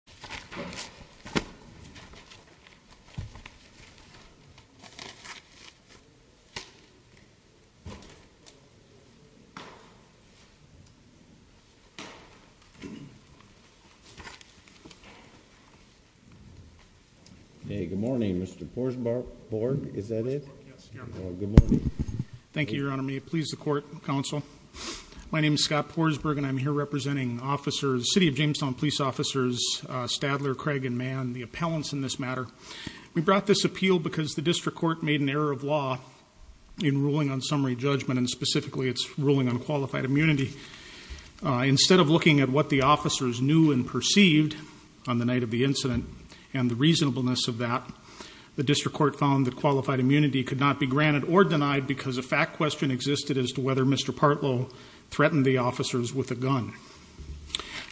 Stratton v. James Stone v. Poulos v. Stadler v. Craig v. Mann The District Court found that qualified immunity could not be granted or denied because a fact question existed as to whether Mr. Partlow threatened the officers with a gun.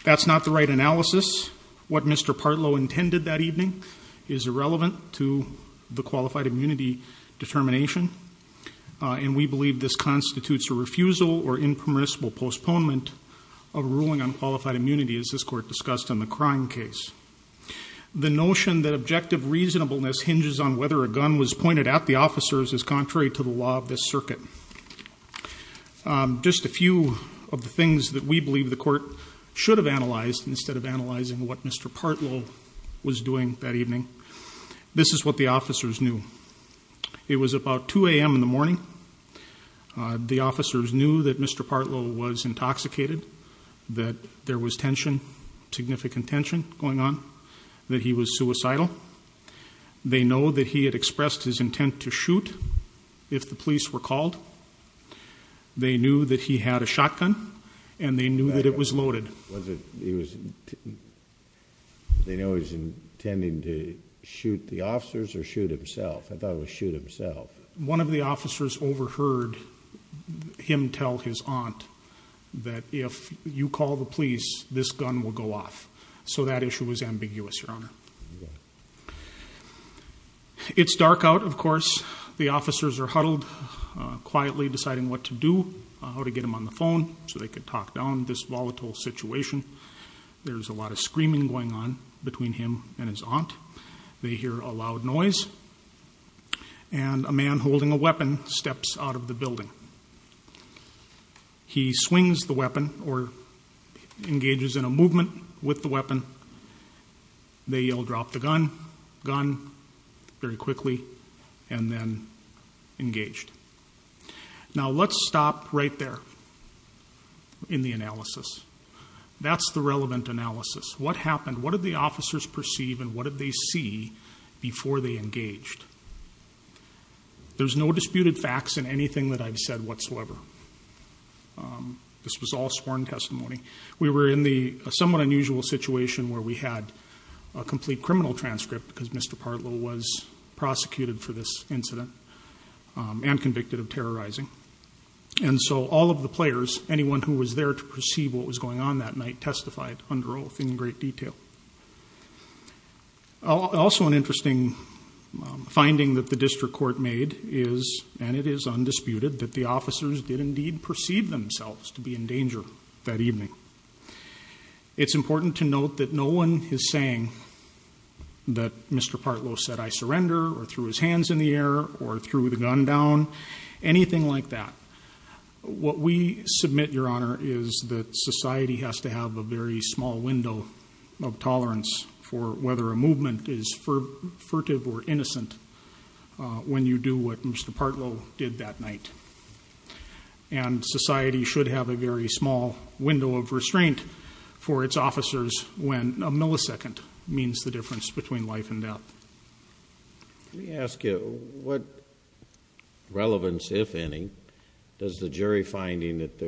That's not the right analysis. What Mr. Partlow intended that evening is irrelevant to the qualified immunity determination. And we believe this constitutes a refusal or impermissible postponement of a ruling on qualified immunity as this Court discussed in the crime case. The notion that objective reasonableness hinges on whether a gun was pointed at the officers is contrary to the law of this circuit. Just a few of the things that we believe the Court should have analyzed instead of analyzing what Mr. Partlow was doing that evening. This is what the officers knew. It was about 2 a.m. in the morning. The officers knew that Mr. Partlow was intoxicated, that there was tension, significant tension going on, that he was suicidal. They know that he had expressed his intent to shoot if the police were called. They knew that he had a shotgun and they knew that it was loaded. They know he was intending to shoot the officers or shoot himself? I thought it was shoot himself. One of the officers overheard him tell his aunt that if you call the police, this gun will go off. So that issue was ambiguous, Your Honor. It's dark out, of course. The officers are huddled, quietly deciding what to do, how to get him on the phone so they could talk down this volatile situation. There's a lot of screaming going on between him and his aunt. They hear a loud noise and a man holding a weapon steps out of the building. He swings the weapon or engages in a movement with the weapon. They all drop the gun very quickly and then engaged. Now, let's stop right there in the analysis. That's the relevant analysis. What happened? What did the officers perceive and what did they see before they engaged? There's no disputed facts in anything that I've said whatsoever. This was all sworn testimony. We were in the somewhat unusual situation where we had a complete criminal transcript because Mr. Partlow was prosecuted for this incident and convicted of terrorizing. And so all of the players, anyone who was there to perceive what was going on that night, testified under oath in great detail. Also an interesting finding that the district court made is, and it is undisputed, that the officers did indeed perceive themselves to be in danger that evening. It's important to note that no one is saying that Mr. Partlow said, I surrender or threw his hands in the air or threw the gun down, anything like that. What we submit, Your Honor, is that society has to have a very small window of tolerance for whether a movement is furtive or innocent when you do what Mr. Partlow did that night. And society should have a very small window of restraint for its officers when a millisecond means the difference between life and death. Let me ask you, what relevance, if any, does the jury finding that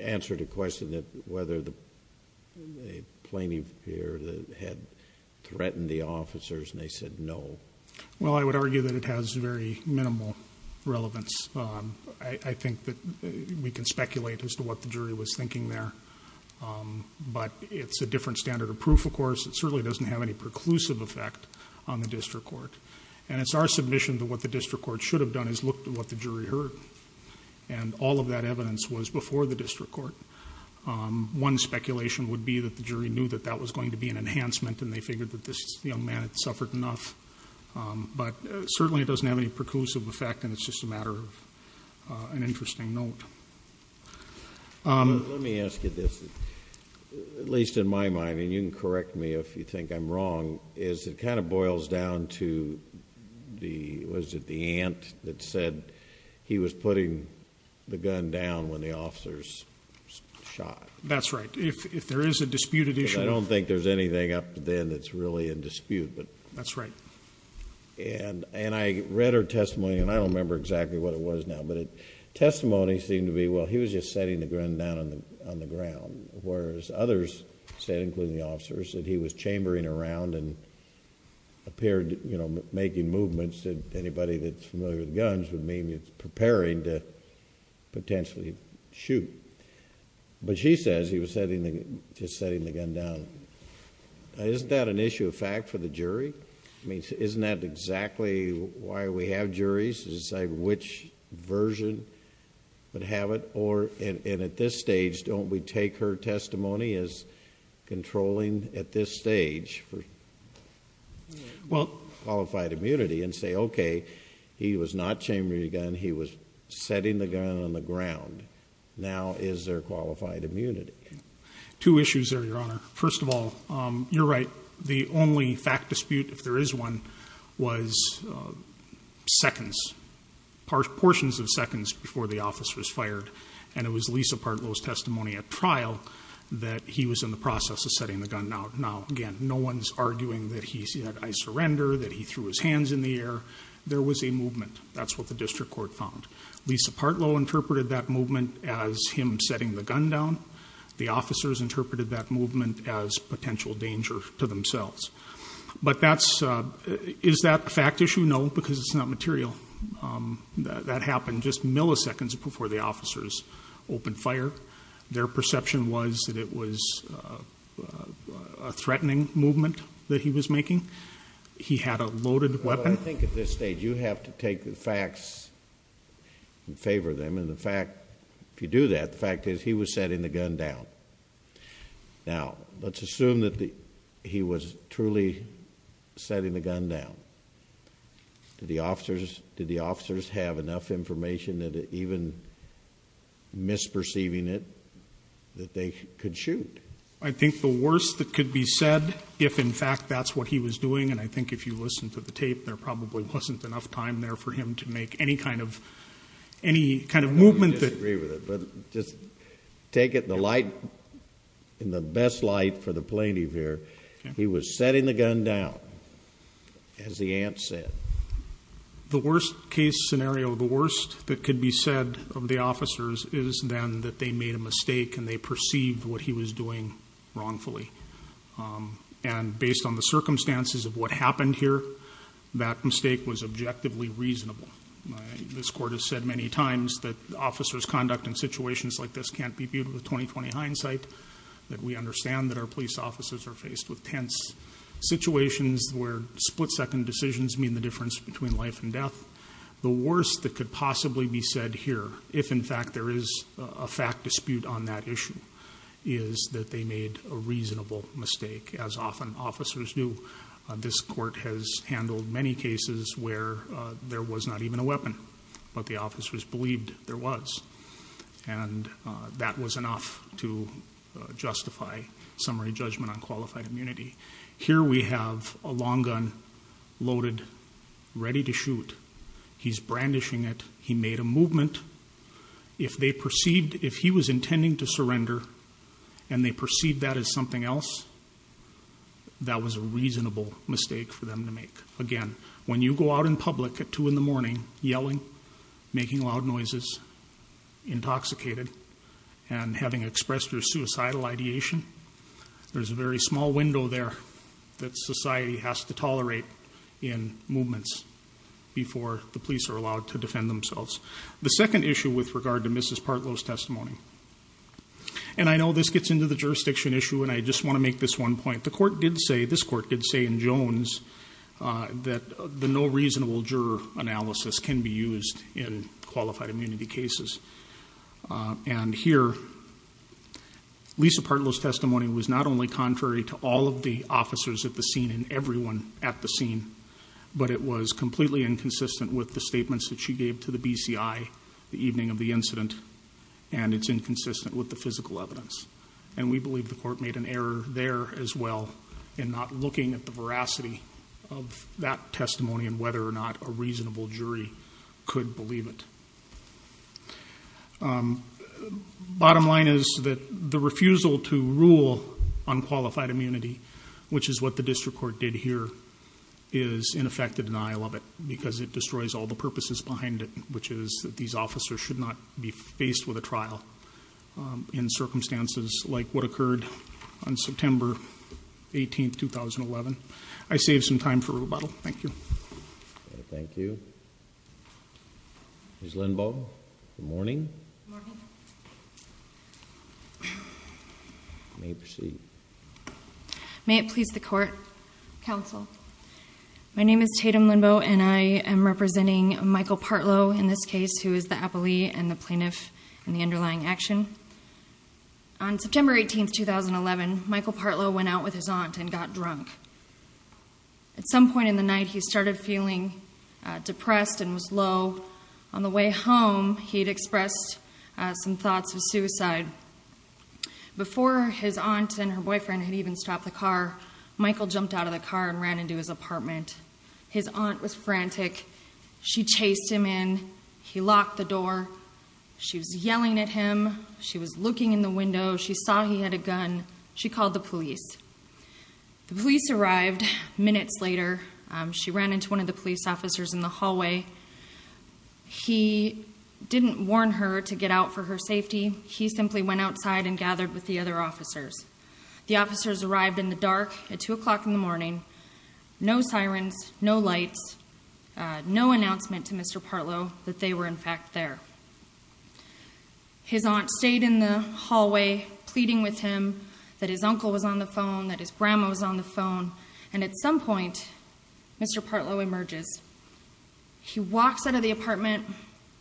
answered the question that whether the plaintiff here had threatened the officers and they said no? Well, I would argue that it has very minimal relevance. I think that we can speculate as to what the jury was thinking there. But it's a different standard of proof, of course. It certainly doesn't have any preclusive effect on the district court. And it's our submission that what the district court should have done is looked at what the jury heard. And all of that evidence was before the district court. One speculation would be that the jury knew that that was going to be an enhancement and they figured that this young man had suffered enough. But certainly it doesn't have any preclusive effect and it's just a matter of an interesting note. Let me ask you this. At least in my mind, and you can correct me if you think I'm wrong, is it kind of boils down to the aunt that said he was putting the gun down when the officers shot. That's right. If there is a disputed issue. I don't think there's anything up to then that's really in dispute. That's right. And I read her testimony, and I don't remember exactly what it was now, but the testimony seemed to be, well, he was just setting the gun down on the ground. Whereas others said, including the officers, that he was chambering around and making movements that anybody that's familiar with guns would mean it's preparing to potentially shoot. But she says he was just setting the gun down. Isn't that an issue of fact for the jury? I mean, isn't that exactly why we have juries to decide which version would have it? And at this stage, don't we take her testimony as controlling at this stage for qualified immunity and say, okay, he was not chambering a gun. He was setting the gun on the ground. Now is there qualified immunity? Two issues there, Your Honor. First of all, you're right. The only fact dispute, if there is one, was seconds, portions of seconds before the officer was fired. And it was Lisa Partlow's testimony at trial that he was in the process of setting the gun down. Now, again, no one's arguing that he said, I surrender, that he threw his hands in the air. There was a movement. That's what the district court found. Lisa Partlow interpreted that movement as him setting the gun down. The officers interpreted that movement as potential danger to themselves. But is that a fact issue? No, because it's not material. That happened just milliseconds before the officers opened fire. Their perception was that it was a threatening movement that he was making. He had a loaded weapon. Well, I think at this stage you have to take the facts in favor of them. And the fact, if you do that, the fact is he was setting the gun down. Now, let's assume that he was truly setting the gun down. Did the officers have enough information that even misperceiving it that they could shoot? I think the worst that could be said, if in fact that's what he was doing, and I think if you listen to the tape, there probably wasn't enough time there for him to make any kind of movement. I don't disagree with it, but just take it in the best light for the plaintiff here. He was setting the gun down, as the aunt said. The worst case scenario, the worst that could be said of the officers, is then that they made a mistake and they perceived what he was doing wrongfully. And based on the circumstances of what happened here, that mistake was objectively reasonable. This court has said many times that officers' conduct in situations like this can't be viewed with 20-20 hindsight, that we understand that our police officers are faced with tense situations where split-second decisions mean the difference between life and death. The worst that could possibly be said here, if in fact there is a fact dispute on that issue, is that they made a reasonable mistake, as often officers do. This court has handled many cases where there was not even a weapon, but the officers believed there was. And that was enough to justify summary judgment on qualified immunity. Here we have a long gun loaded, ready to shoot. He's brandishing it. He made a movement. If they perceived, if he was intending to surrender, and they perceived that as something else, that was a reasonable mistake for them to make. Again, when you go out in public at 2 in the morning, yelling, making loud noises, intoxicated, and having expressed your suicidal ideation, there's a very small window there that society has to tolerate in movements before the police are allowed to defend themselves. The second issue with regard to Mrs. Partlow's testimony, and I know this gets into the jurisdiction issue, and I just want to make this one point. The court did say, this court did say in Jones, that the no reasonable juror analysis can be used in qualified immunity cases. And here, Lisa Partlow's testimony was not only contrary to all of the officers at the scene and everyone at the scene, but it was completely inconsistent with the statements that she gave to the BCI the evening of the incident, and it's inconsistent with the physical evidence. And we believe the court made an error there as well in not looking at the veracity of that testimony and whether or not a reasonable jury could believe it. Bottom line is that the refusal to rule on qualified immunity, which is what the district court did here, is in effect a denial of it, because it destroys all the purposes behind it, which is that these officers should not be faced with a trial in circumstances like what occurred on September 18th, 2011. I saved some time for rebuttal. Thank you. Thank you. Ms. Linbaugh, good morning. Good morning. You may proceed. May it please the court. Counsel. My name is Tatum Linbaugh, and I am representing Michael Partlow in this case, who is the appellee and the plaintiff in the underlying action. On September 18th, 2011, Michael Partlow went out with his aunt and got drunk. At some point in the night, he started feeling depressed and was low. On the way home, he had expressed some thoughts of suicide. Before his aunt and her boyfriend had even stopped the car, Michael jumped out of the car and ran into his apartment. His aunt was frantic. She chased him in. He locked the door. She was yelling at him. She was looking in the window. She saw he had a gun. She called the police. The police arrived minutes later. She ran into one of the police officers in the hallway. He didn't warn her to get out for her safety. He simply went outside and gathered with the other officers. The officers arrived in the dark at 2 o'clock in the morning. No sirens, no lights, no announcement to Mr. Partlow that they were, in fact, there. His aunt stayed in the hallway pleading with him that his uncle was on the phone, that his grandma was on the phone. And at some point, Mr. Partlow emerges. He walks out of the apartment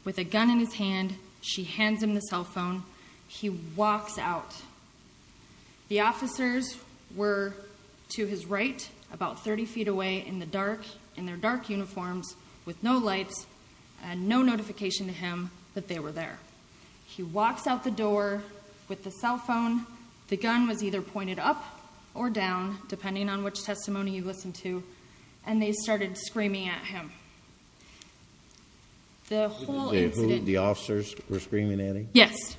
with a gun in his hand. She hands him the cell phone. He walks out. The officers were to his right, about 30 feet away in the dark, in their dark uniforms, with no lights and no notification to him that they were there. He walks out the door with the cell phone. The gun was either pointed up or down, depending on which testimony you listened to, and they started screaming at him. The whole incident- The officers were screaming at him? Yes.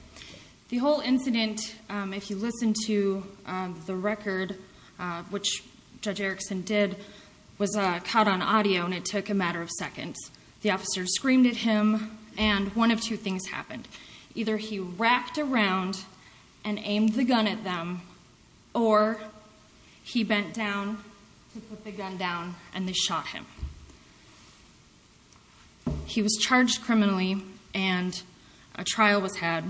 The whole incident, if you listen to the record, which Judge Erickson did, was caught on audio, and it took a matter of seconds. The officers screamed at him, and one of two things happened. Either he wrapped around and aimed the gun at them, or he bent down to put the gun down, and they shot him. He was charged criminally, and a trial was had.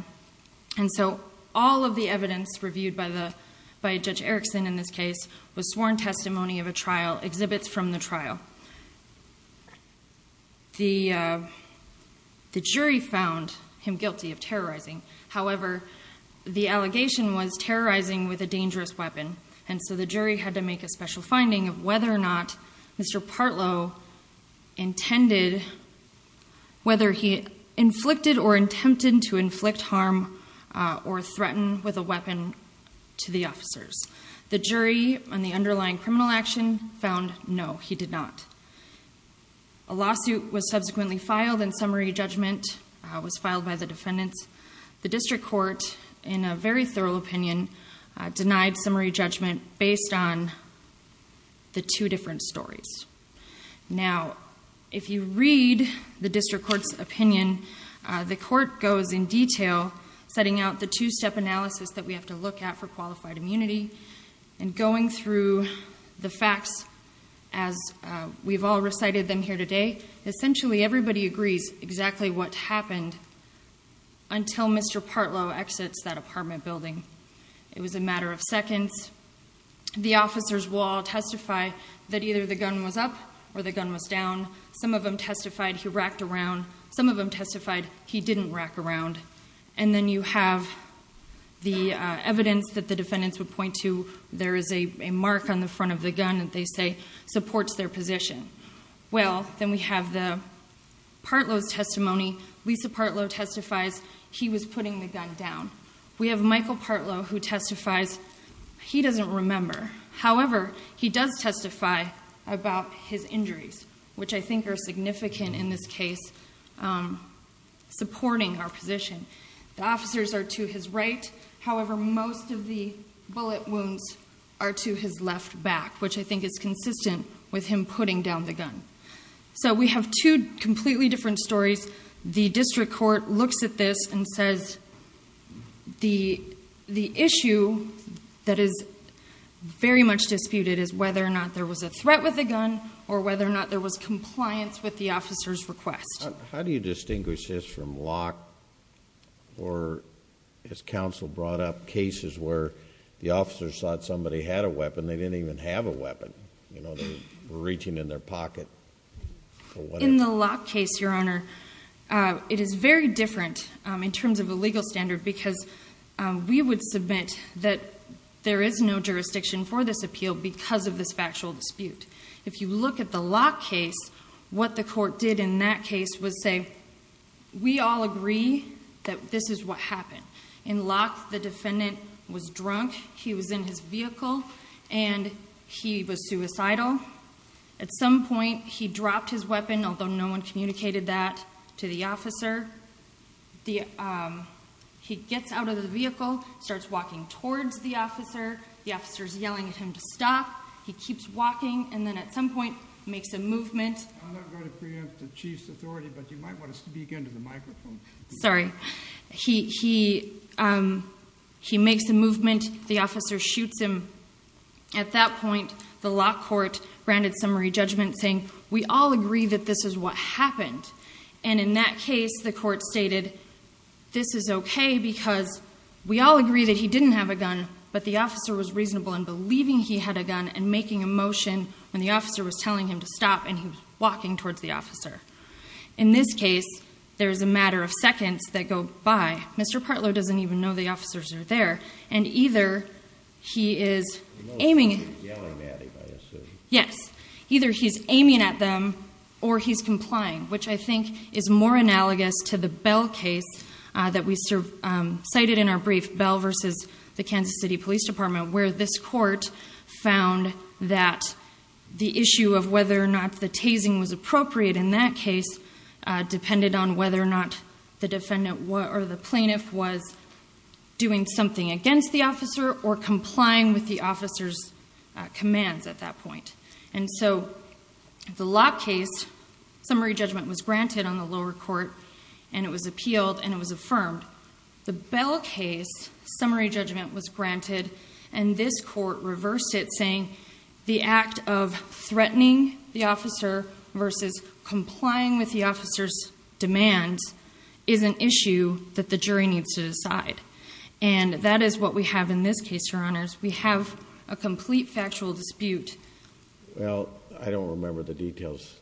And so all of the evidence reviewed by Judge Erickson in this case was sworn testimony of a trial, exhibits from the trial. The jury found him guilty of terrorizing. However, the allegation was terrorizing with a dangerous weapon, and so the jury had to make a special finding of whether or not Mr. Partlow intended- whether he inflicted or attempted to inflict harm or threaten with a weapon to the officers. The jury, on the underlying criminal action, found no, he did not. A lawsuit was subsequently filed, and summary judgment was filed by the defendants. The district court, in a very thorough opinion, denied summary judgment based on the two different stories. Now, if you read the district court's opinion, the court goes in detail, setting out the two-step analysis that we have to look at for qualified immunity, and going through the facts as we've all recited them here today. Essentially, everybody agrees exactly what happened until Mr. Partlow exits that apartment building. It was a matter of seconds. The officers will all testify that either the gun was up or the gun was down. Some of them testified he racked around. Some of them testified he didn't rack around. And then you have the evidence that the defendants would point to. There is a mark on the front of the gun that they say supports their position. Well, then we have the Partlow's testimony. Lisa Partlow testifies he was putting the gun down. We have Michael Partlow who testifies he doesn't remember. However, he does testify about his injuries, which I think are significant in this case, supporting our position. The officers are to his right. However, most of the bullet wounds are to his left back, which I think is consistent with him putting down the gun. So we have two completely different stories. The district court looks at this and says the issue that is very much disputed is whether or not there was a threat with the gun or whether or not there was compliance with the officer's request. How do you distinguish this from lock or, as counsel brought up, cases where the officers thought somebody had a weapon. They didn't even have a weapon. They were reaching in their pocket. In the lock case, Your Honor, it is very different in terms of a legal standard because we would submit that there is no jurisdiction for this appeal because of this factual dispute. If you look at the lock case, what the court did in that case was say, we all agree that this is what happened. In lock, the defendant was drunk. He was in his vehicle, and he was suicidal. At some point, he dropped his weapon, although no one communicated that to the officer. He gets out of the vehicle, starts walking towards the officer. The officer is yelling at him to stop. He keeps walking, and then at some point makes a movement. I'm not going to preempt the chief's authority, but you might want to speak into the microphone. Sorry. He makes a movement. The officer shoots him. At that point, the lock court granted summary judgment, saying, we all agree that this is what happened. And in that case, the court stated, this is okay because we all agree that he didn't have a gun, but the officer was reasonable in believing he had a gun and making a motion when the officer was telling him to stop, and he was walking towards the officer. In this case, there is a matter of seconds that go by. Mr. Partlow doesn't even know the officers are there, and either he is aiming at them or he's complying, which I think is more analogous to the Bell case that we cited in our brief, Bell versus the Kansas City Police Department, where this court found that the issue of whether or not the tasing was appropriate in that case depended on whether or not the plaintiff was doing something against the officer or complying with the officer's commands at that point. And so the lock case, summary judgment was granted on the lower court, and it was appealed, and it was affirmed. The Bell case, summary judgment was granted, and this court reversed it, saying the act of threatening the officer versus complying with the officer's demands is an issue that the jury needs to decide. And that is what we have in this case, Your Honors. We have a complete factual dispute. Well, I don't remember the details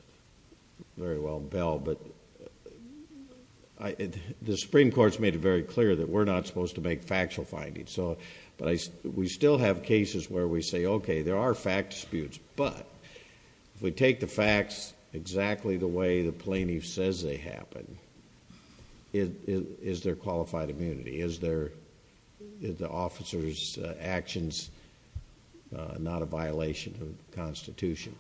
very well, Bell, but the Supreme Court has made it very clear that we're not supposed to make factual findings. But we still have cases where we say, okay, there are fact disputes, but if we take the facts exactly the way the plaintiff says they happened, is there qualified immunity? Is the officer's actions not a violation of the Constitution?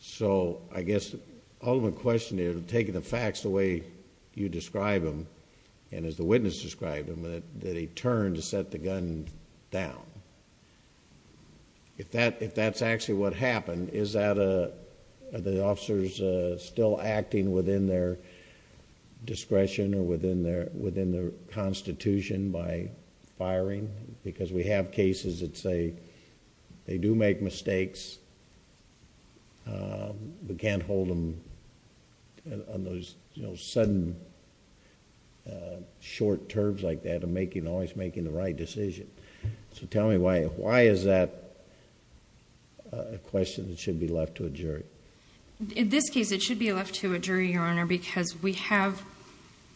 So I guess the ultimate question is, taking the facts the way you describe them, and as the witness described them, did he turn to set the gun down? If that's actually what happened, are the officers still acting within their discretion or within their Constitution by firing? Because we have cases that say they do make mistakes, but can't hold them on those sudden, short terms like that of always making the right decision. So tell me, why is that a question that should be left to a jury? In this case, it should be left to a jury, Your Honor, because we have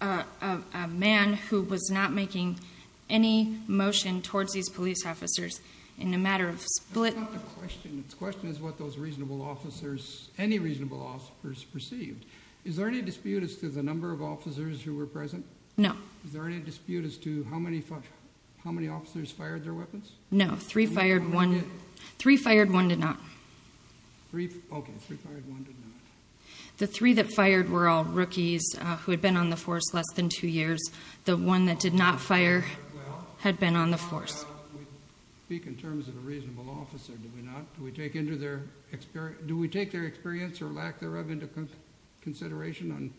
a man who was not making any motion towards these police officers in a matter of split... That's not the question. The question is what those reasonable officers, any reasonable officers, perceived. Is there any dispute as to the number of officers who were present? No. Is there any dispute as to how many officers fired their weapons? No, three fired one. Three fired, one did not. Okay, three fired, one did not. The three that fired were all rookies who had been on the force less than two years. The one that did not fire had been on the force. Do we speak in terms of a reasonable officer, do we not? Do we take their experience or lack thereof into consideration on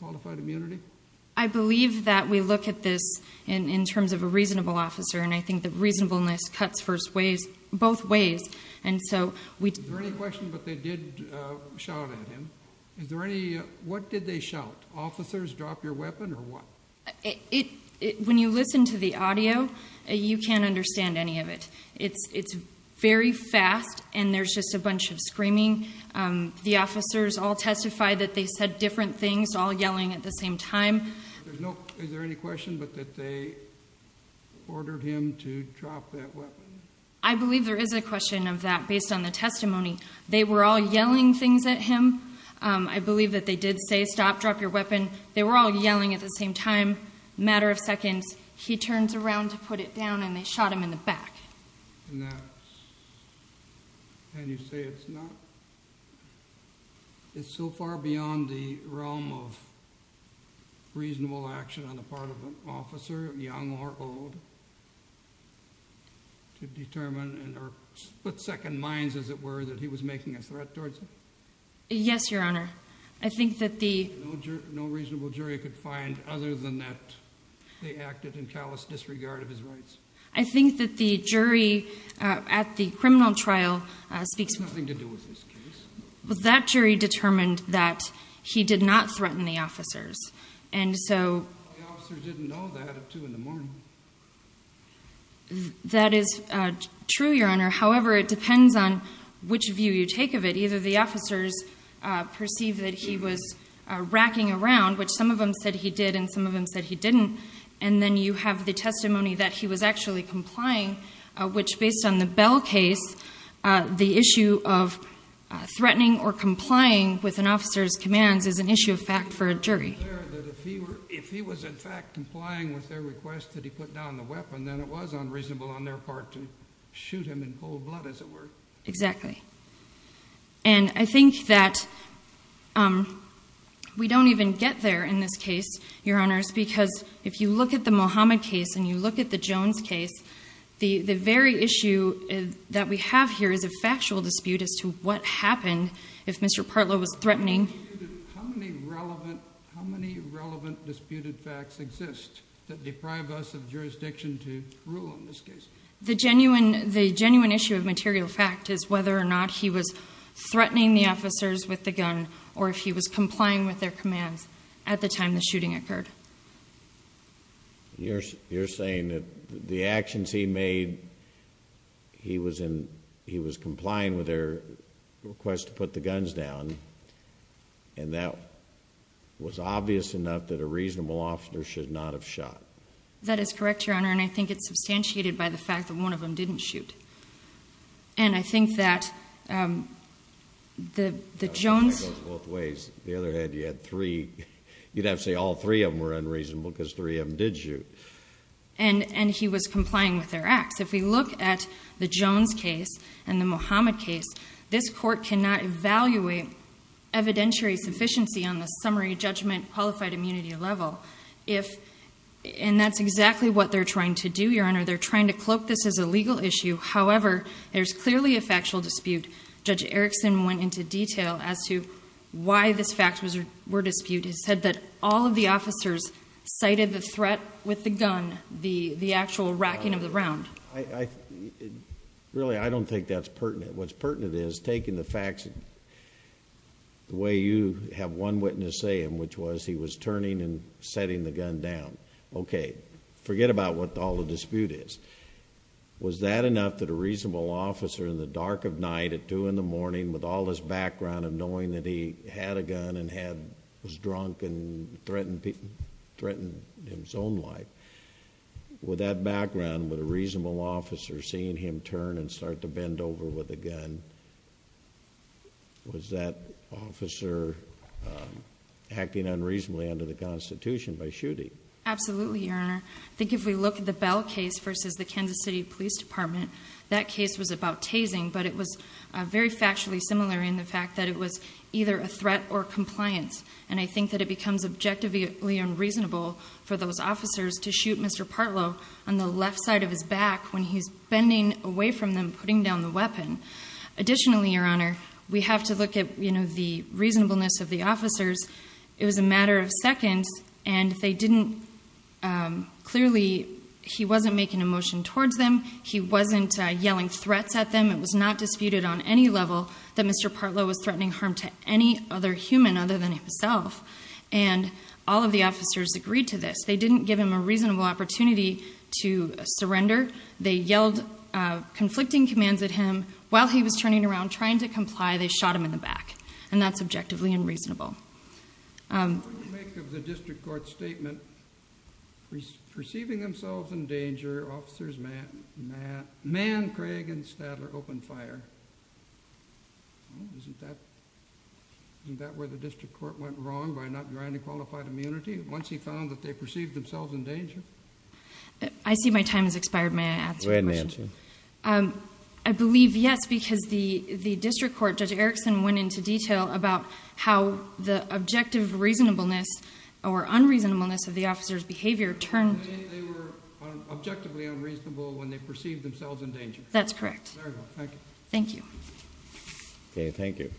qualified immunity? I believe that we look at this in terms of a reasonable officer, and I think that reasonableness cuts both ways. Is there any question, but they did shout at him. What did they shout? Officers, drop your weapon or what? When you listen to the audio, you can't understand any of it. It's very fast, and there's just a bunch of screaming. The officers all testified that they said different things, all yelling at the same time. Is there any question, but that they ordered him to drop that weapon? I believe there is a question of that based on the testimony. They were all yelling things at him. I believe that they did say, stop, drop your weapon. They were all yelling at the same time. A matter of seconds, he turns around to put it down, and they shot him in the back. Can you say it's not? It's so far beyond the realm of reasonable action on the part of an officer, young or old, to determine or put second minds, as it were, that he was making a threat towards them? Yes, Your Honor. No reasonable jury could find other than that they acted in callous disregard of his rights. I think that the jury at the criminal trial speaks to that. It has nothing to do with this case. That jury determined that he did not threaten the officers. The officers didn't know that at 2 in the morning. That is true, Your Honor. However, it depends on which view you take of it. Either the officers perceived that he was racking around, which some of them said he did and some of them said he didn't, and then you have the testimony that he was actually complying, which, based on the Bell case, the issue of threatening or complying with an officer's commands is an issue of fact for a jury. If he was, in fact, complying with their request that he put down the weapon, then it was unreasonable on their part to shoot him in cold blood, as it were. Exactly. And I think that we don't even get there in this case, Your Honors, because if you look at the Muhammad case and you look at the Jones case, the very issue that we have here is a factual dispute as to what happened if Mr. Partlow was threatening. How many relevant disputed facts exist that deprive us of jurisdiction to rule in this case? The genuine issue of material fact is whether or not he was threatening the officers with the gun or if he was complying with their commands at the time the shooting occurred. You're saying that the actions he made, he was complying with their request to put the guns down, and that was obvious enough that a reasonable officer should not have shot. That is correct, Your Honor, and I think it's substantiated by the fact that one of them didn't shoot. And I think that the Jones... That goes both ways. On the other hand, you'd have to say all three of them were unreasonable because three of them did shoot. And he was complying with their acts. If we look at the Jones case and the Muhammad case, this court cannot evaluate evidentiary sufficiency on the summary judgment qualified immunity level and that's exactly what they're trying to do, Your Honor. They're trying to cloak this as a legal issue. However, there's clearly a factual dispute. Judge Erickson went into detail as to why this fact were disputed. He said that all of the officers cited the threat with the gun, the actual racking of the round. Really, I don't think that's pertinent. What's pertinent is taking the facts the way you have one witness say them, which was he was turning and setting the gun down. Okay, forget about what all the dispute is. Was that enough that a reasonable officer in the dark of night at 2 in the morning with all this background of knowing that he had a gun and was drunk and threatened his own life, with that background, with a reasonable officer seeing him turn and start to bend over with a gun, was that officer acting unreasonably under the Constitution by shooting? Absolutely, Your Honor. I think if we look at the Bell case versus the Kansas City Police Department, that case was about tasing, but it was very factually similar in the fact that it was either a threat or compliance. And I think that it becomes objectively unreasonable for those officers to shoot Mr. Partlow on the left side of his back when he's bending away from them, putting down the weapon. Additionally, Your Honor, we have to look at the reasonableness of the officers. It was a matter of seconds, and they didn't, clearly, he wasn't making a motion towards them. He wasn't yelling threats at them. It was not disputed on any level that Mr. Partlow was threatening harm to any other human other than himself, and all of the officers agreed to this. They didn't give him a reasonable opportunity to surrender. They yelled conflicting commands at him while he was turning around trying to comply. They shot him in the back, and that's objectively unreasonable. What do you make of the district court's statement, perceiving themselves in danger, officers manned Craig and Stadler opened fire? Isn't that where the district court went wrong by not granting qualified immunity? Once he found that they perceived themselves in danger? I see my time has expired. May I answer your question? Go ahead and answer. I believe yes, because the district court, Judge Erickson, went into detail about how the objective reasonableness or unreasonableness of the officers' behavior turned. They were objectively unreasonable when they perceived themselves in danger. That's correct. Very well. Thank you. Thank you. Okay, thank you.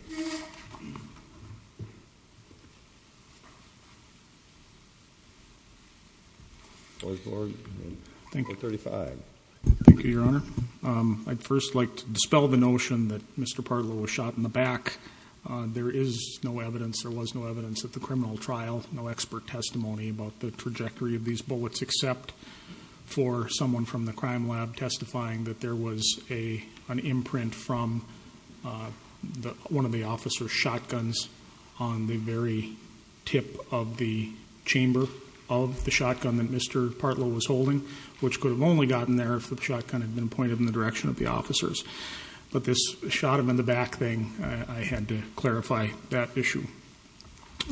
Board, 35. Thank you, Your Honor. I'd first like to dispel the notion that Mr. Partlow was shot in the back. There is no evidence, there was no evidence at the criminal trial, no expert testimony about the trajectory of these bullets, except for someone from the crime lab testifying that there was an imprint from one of the officers' shotguns on the very tip of the chamber of the shotgun that Mr. Partlow was holding, which could have only gotten there if the shotgun had been pointed in the direction of the officers. But this shot him in the back thing, I had to clarify that issue.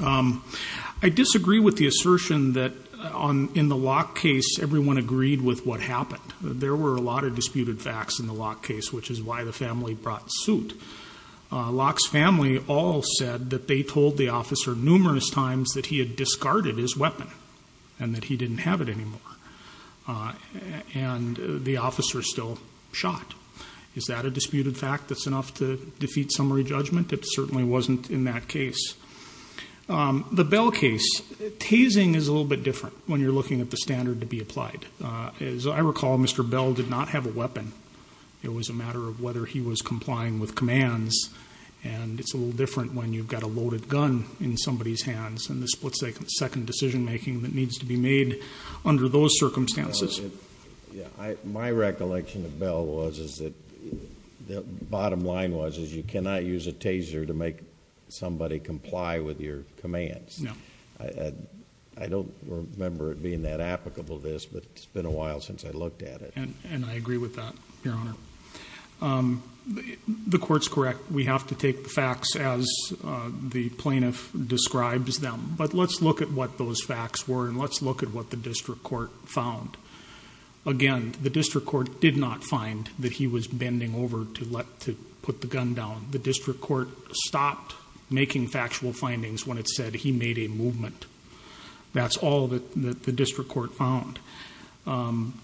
I disagree with the assertion that in the Locke case, everyone agreed with what happened. There were a lot of disputed facts in the Locke case, which is why the family brought suit. Locke's family all said that they told the officer numerous times that he had discarded his weapon and that he didn't have it anymore, and the officer still shot. Is that a disputed fact that's enough to defeat summary judgment? It certainly wasn't in that case. The Bell case, tasing is a little bit different when you're looking at the standard to be applied. As I recall, Mr. Bell did not have a weapon. It was a matter of whether he was complying with commands, and it's a little different when you've got a loaded gun in somebody's hands, and this puts a second decision making that needs to be made under those circumstances. My recollection of Bell was that the bottom line was you cannot use a taser to make somebody comply with your commands. No. I don't remember it being that applicable, this, but it's been a while since I looked at it. And I agree with that, Your Honor. The court's correct. We have to take the facts as the plaintiff describes them, but let's look at what those facts were and let's look at what the district court found. Again, the district court did not find that he was bending over to put the gun down. The district court stopped making factual findings when it said he made a movement. That's all that the district court found. And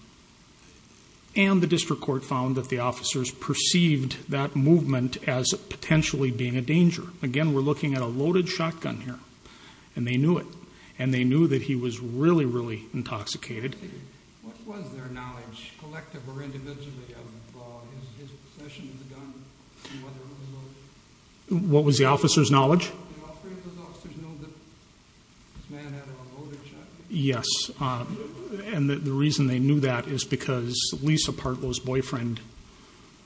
the district court found that the officers perceived that movement as potentially being a danger. Again, we're looking at a loaded shotgun here, and they knew it, and they knew that he was really, really intoxicated. Did the officers know that this man had a loaded shotgun? Yes. And the reason they knew that is because Lisa Partlow's boyfriend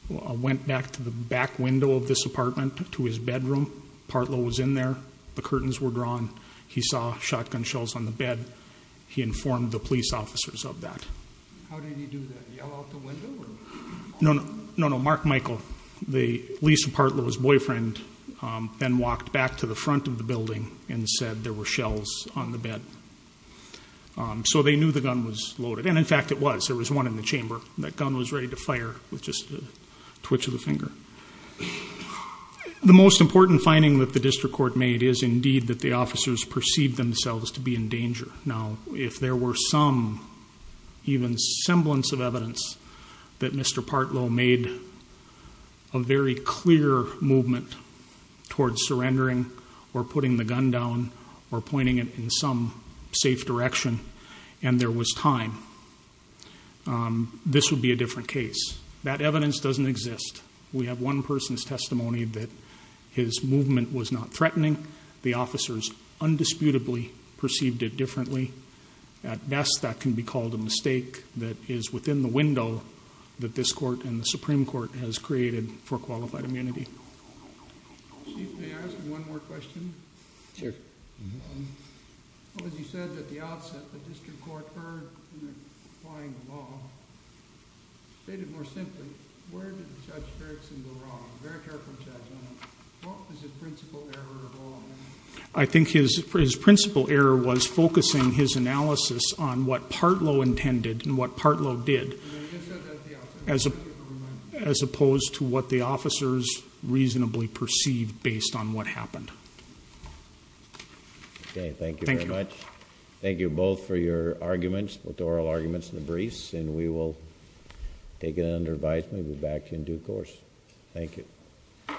went back to the back window of this apartment to his bedroom. Partlow was in there. The curtains were drawn. He saw shotgun shells on the bed. He informed the police officers of that. How did he do that? Yell out the window? No, no. Mark Michael, Lisa Partlow's boyfriend, then walked back to the front of the building and said there were shells on the bed. So they knew the gun was loaded. And, in fact, it was. There was one in the chamber. That gun was ready to fire with just a twitch of a finger. The most important finding that the district court made is, indeed, that the officers perceived themselves to be in danger. Now, if there were some, even semblance of evidence, that Mr. Partlow made a very clear movement towards surrendering or putting the gun down or pointing it in some safe direction, and there was time, this would be a different case. That evidence doesn't exist. We have one person's testimony that his movement was not threatening. The officers undisputably perceived it differently. At best, that can be called a mistake that is within the window that this court and the Supreme Court has created for qualified immunity. Chief, may I ask one more question? Sure. As you said at the outset, the district court heard in applying the law, stated more simply, where did Judge Fergson go wrong? Very careful judgment. What was his principal error of all? I think his principal error was focusing his analysis on what Partlow intended and what Partlow did as opposed to what the officers reasonably perceived based on what happened. Okay, thank you very much. Thank you. Thank you both for your arguments, your oral arguments in the briefs, and we will take it under advisement and be back in due course. Thank you.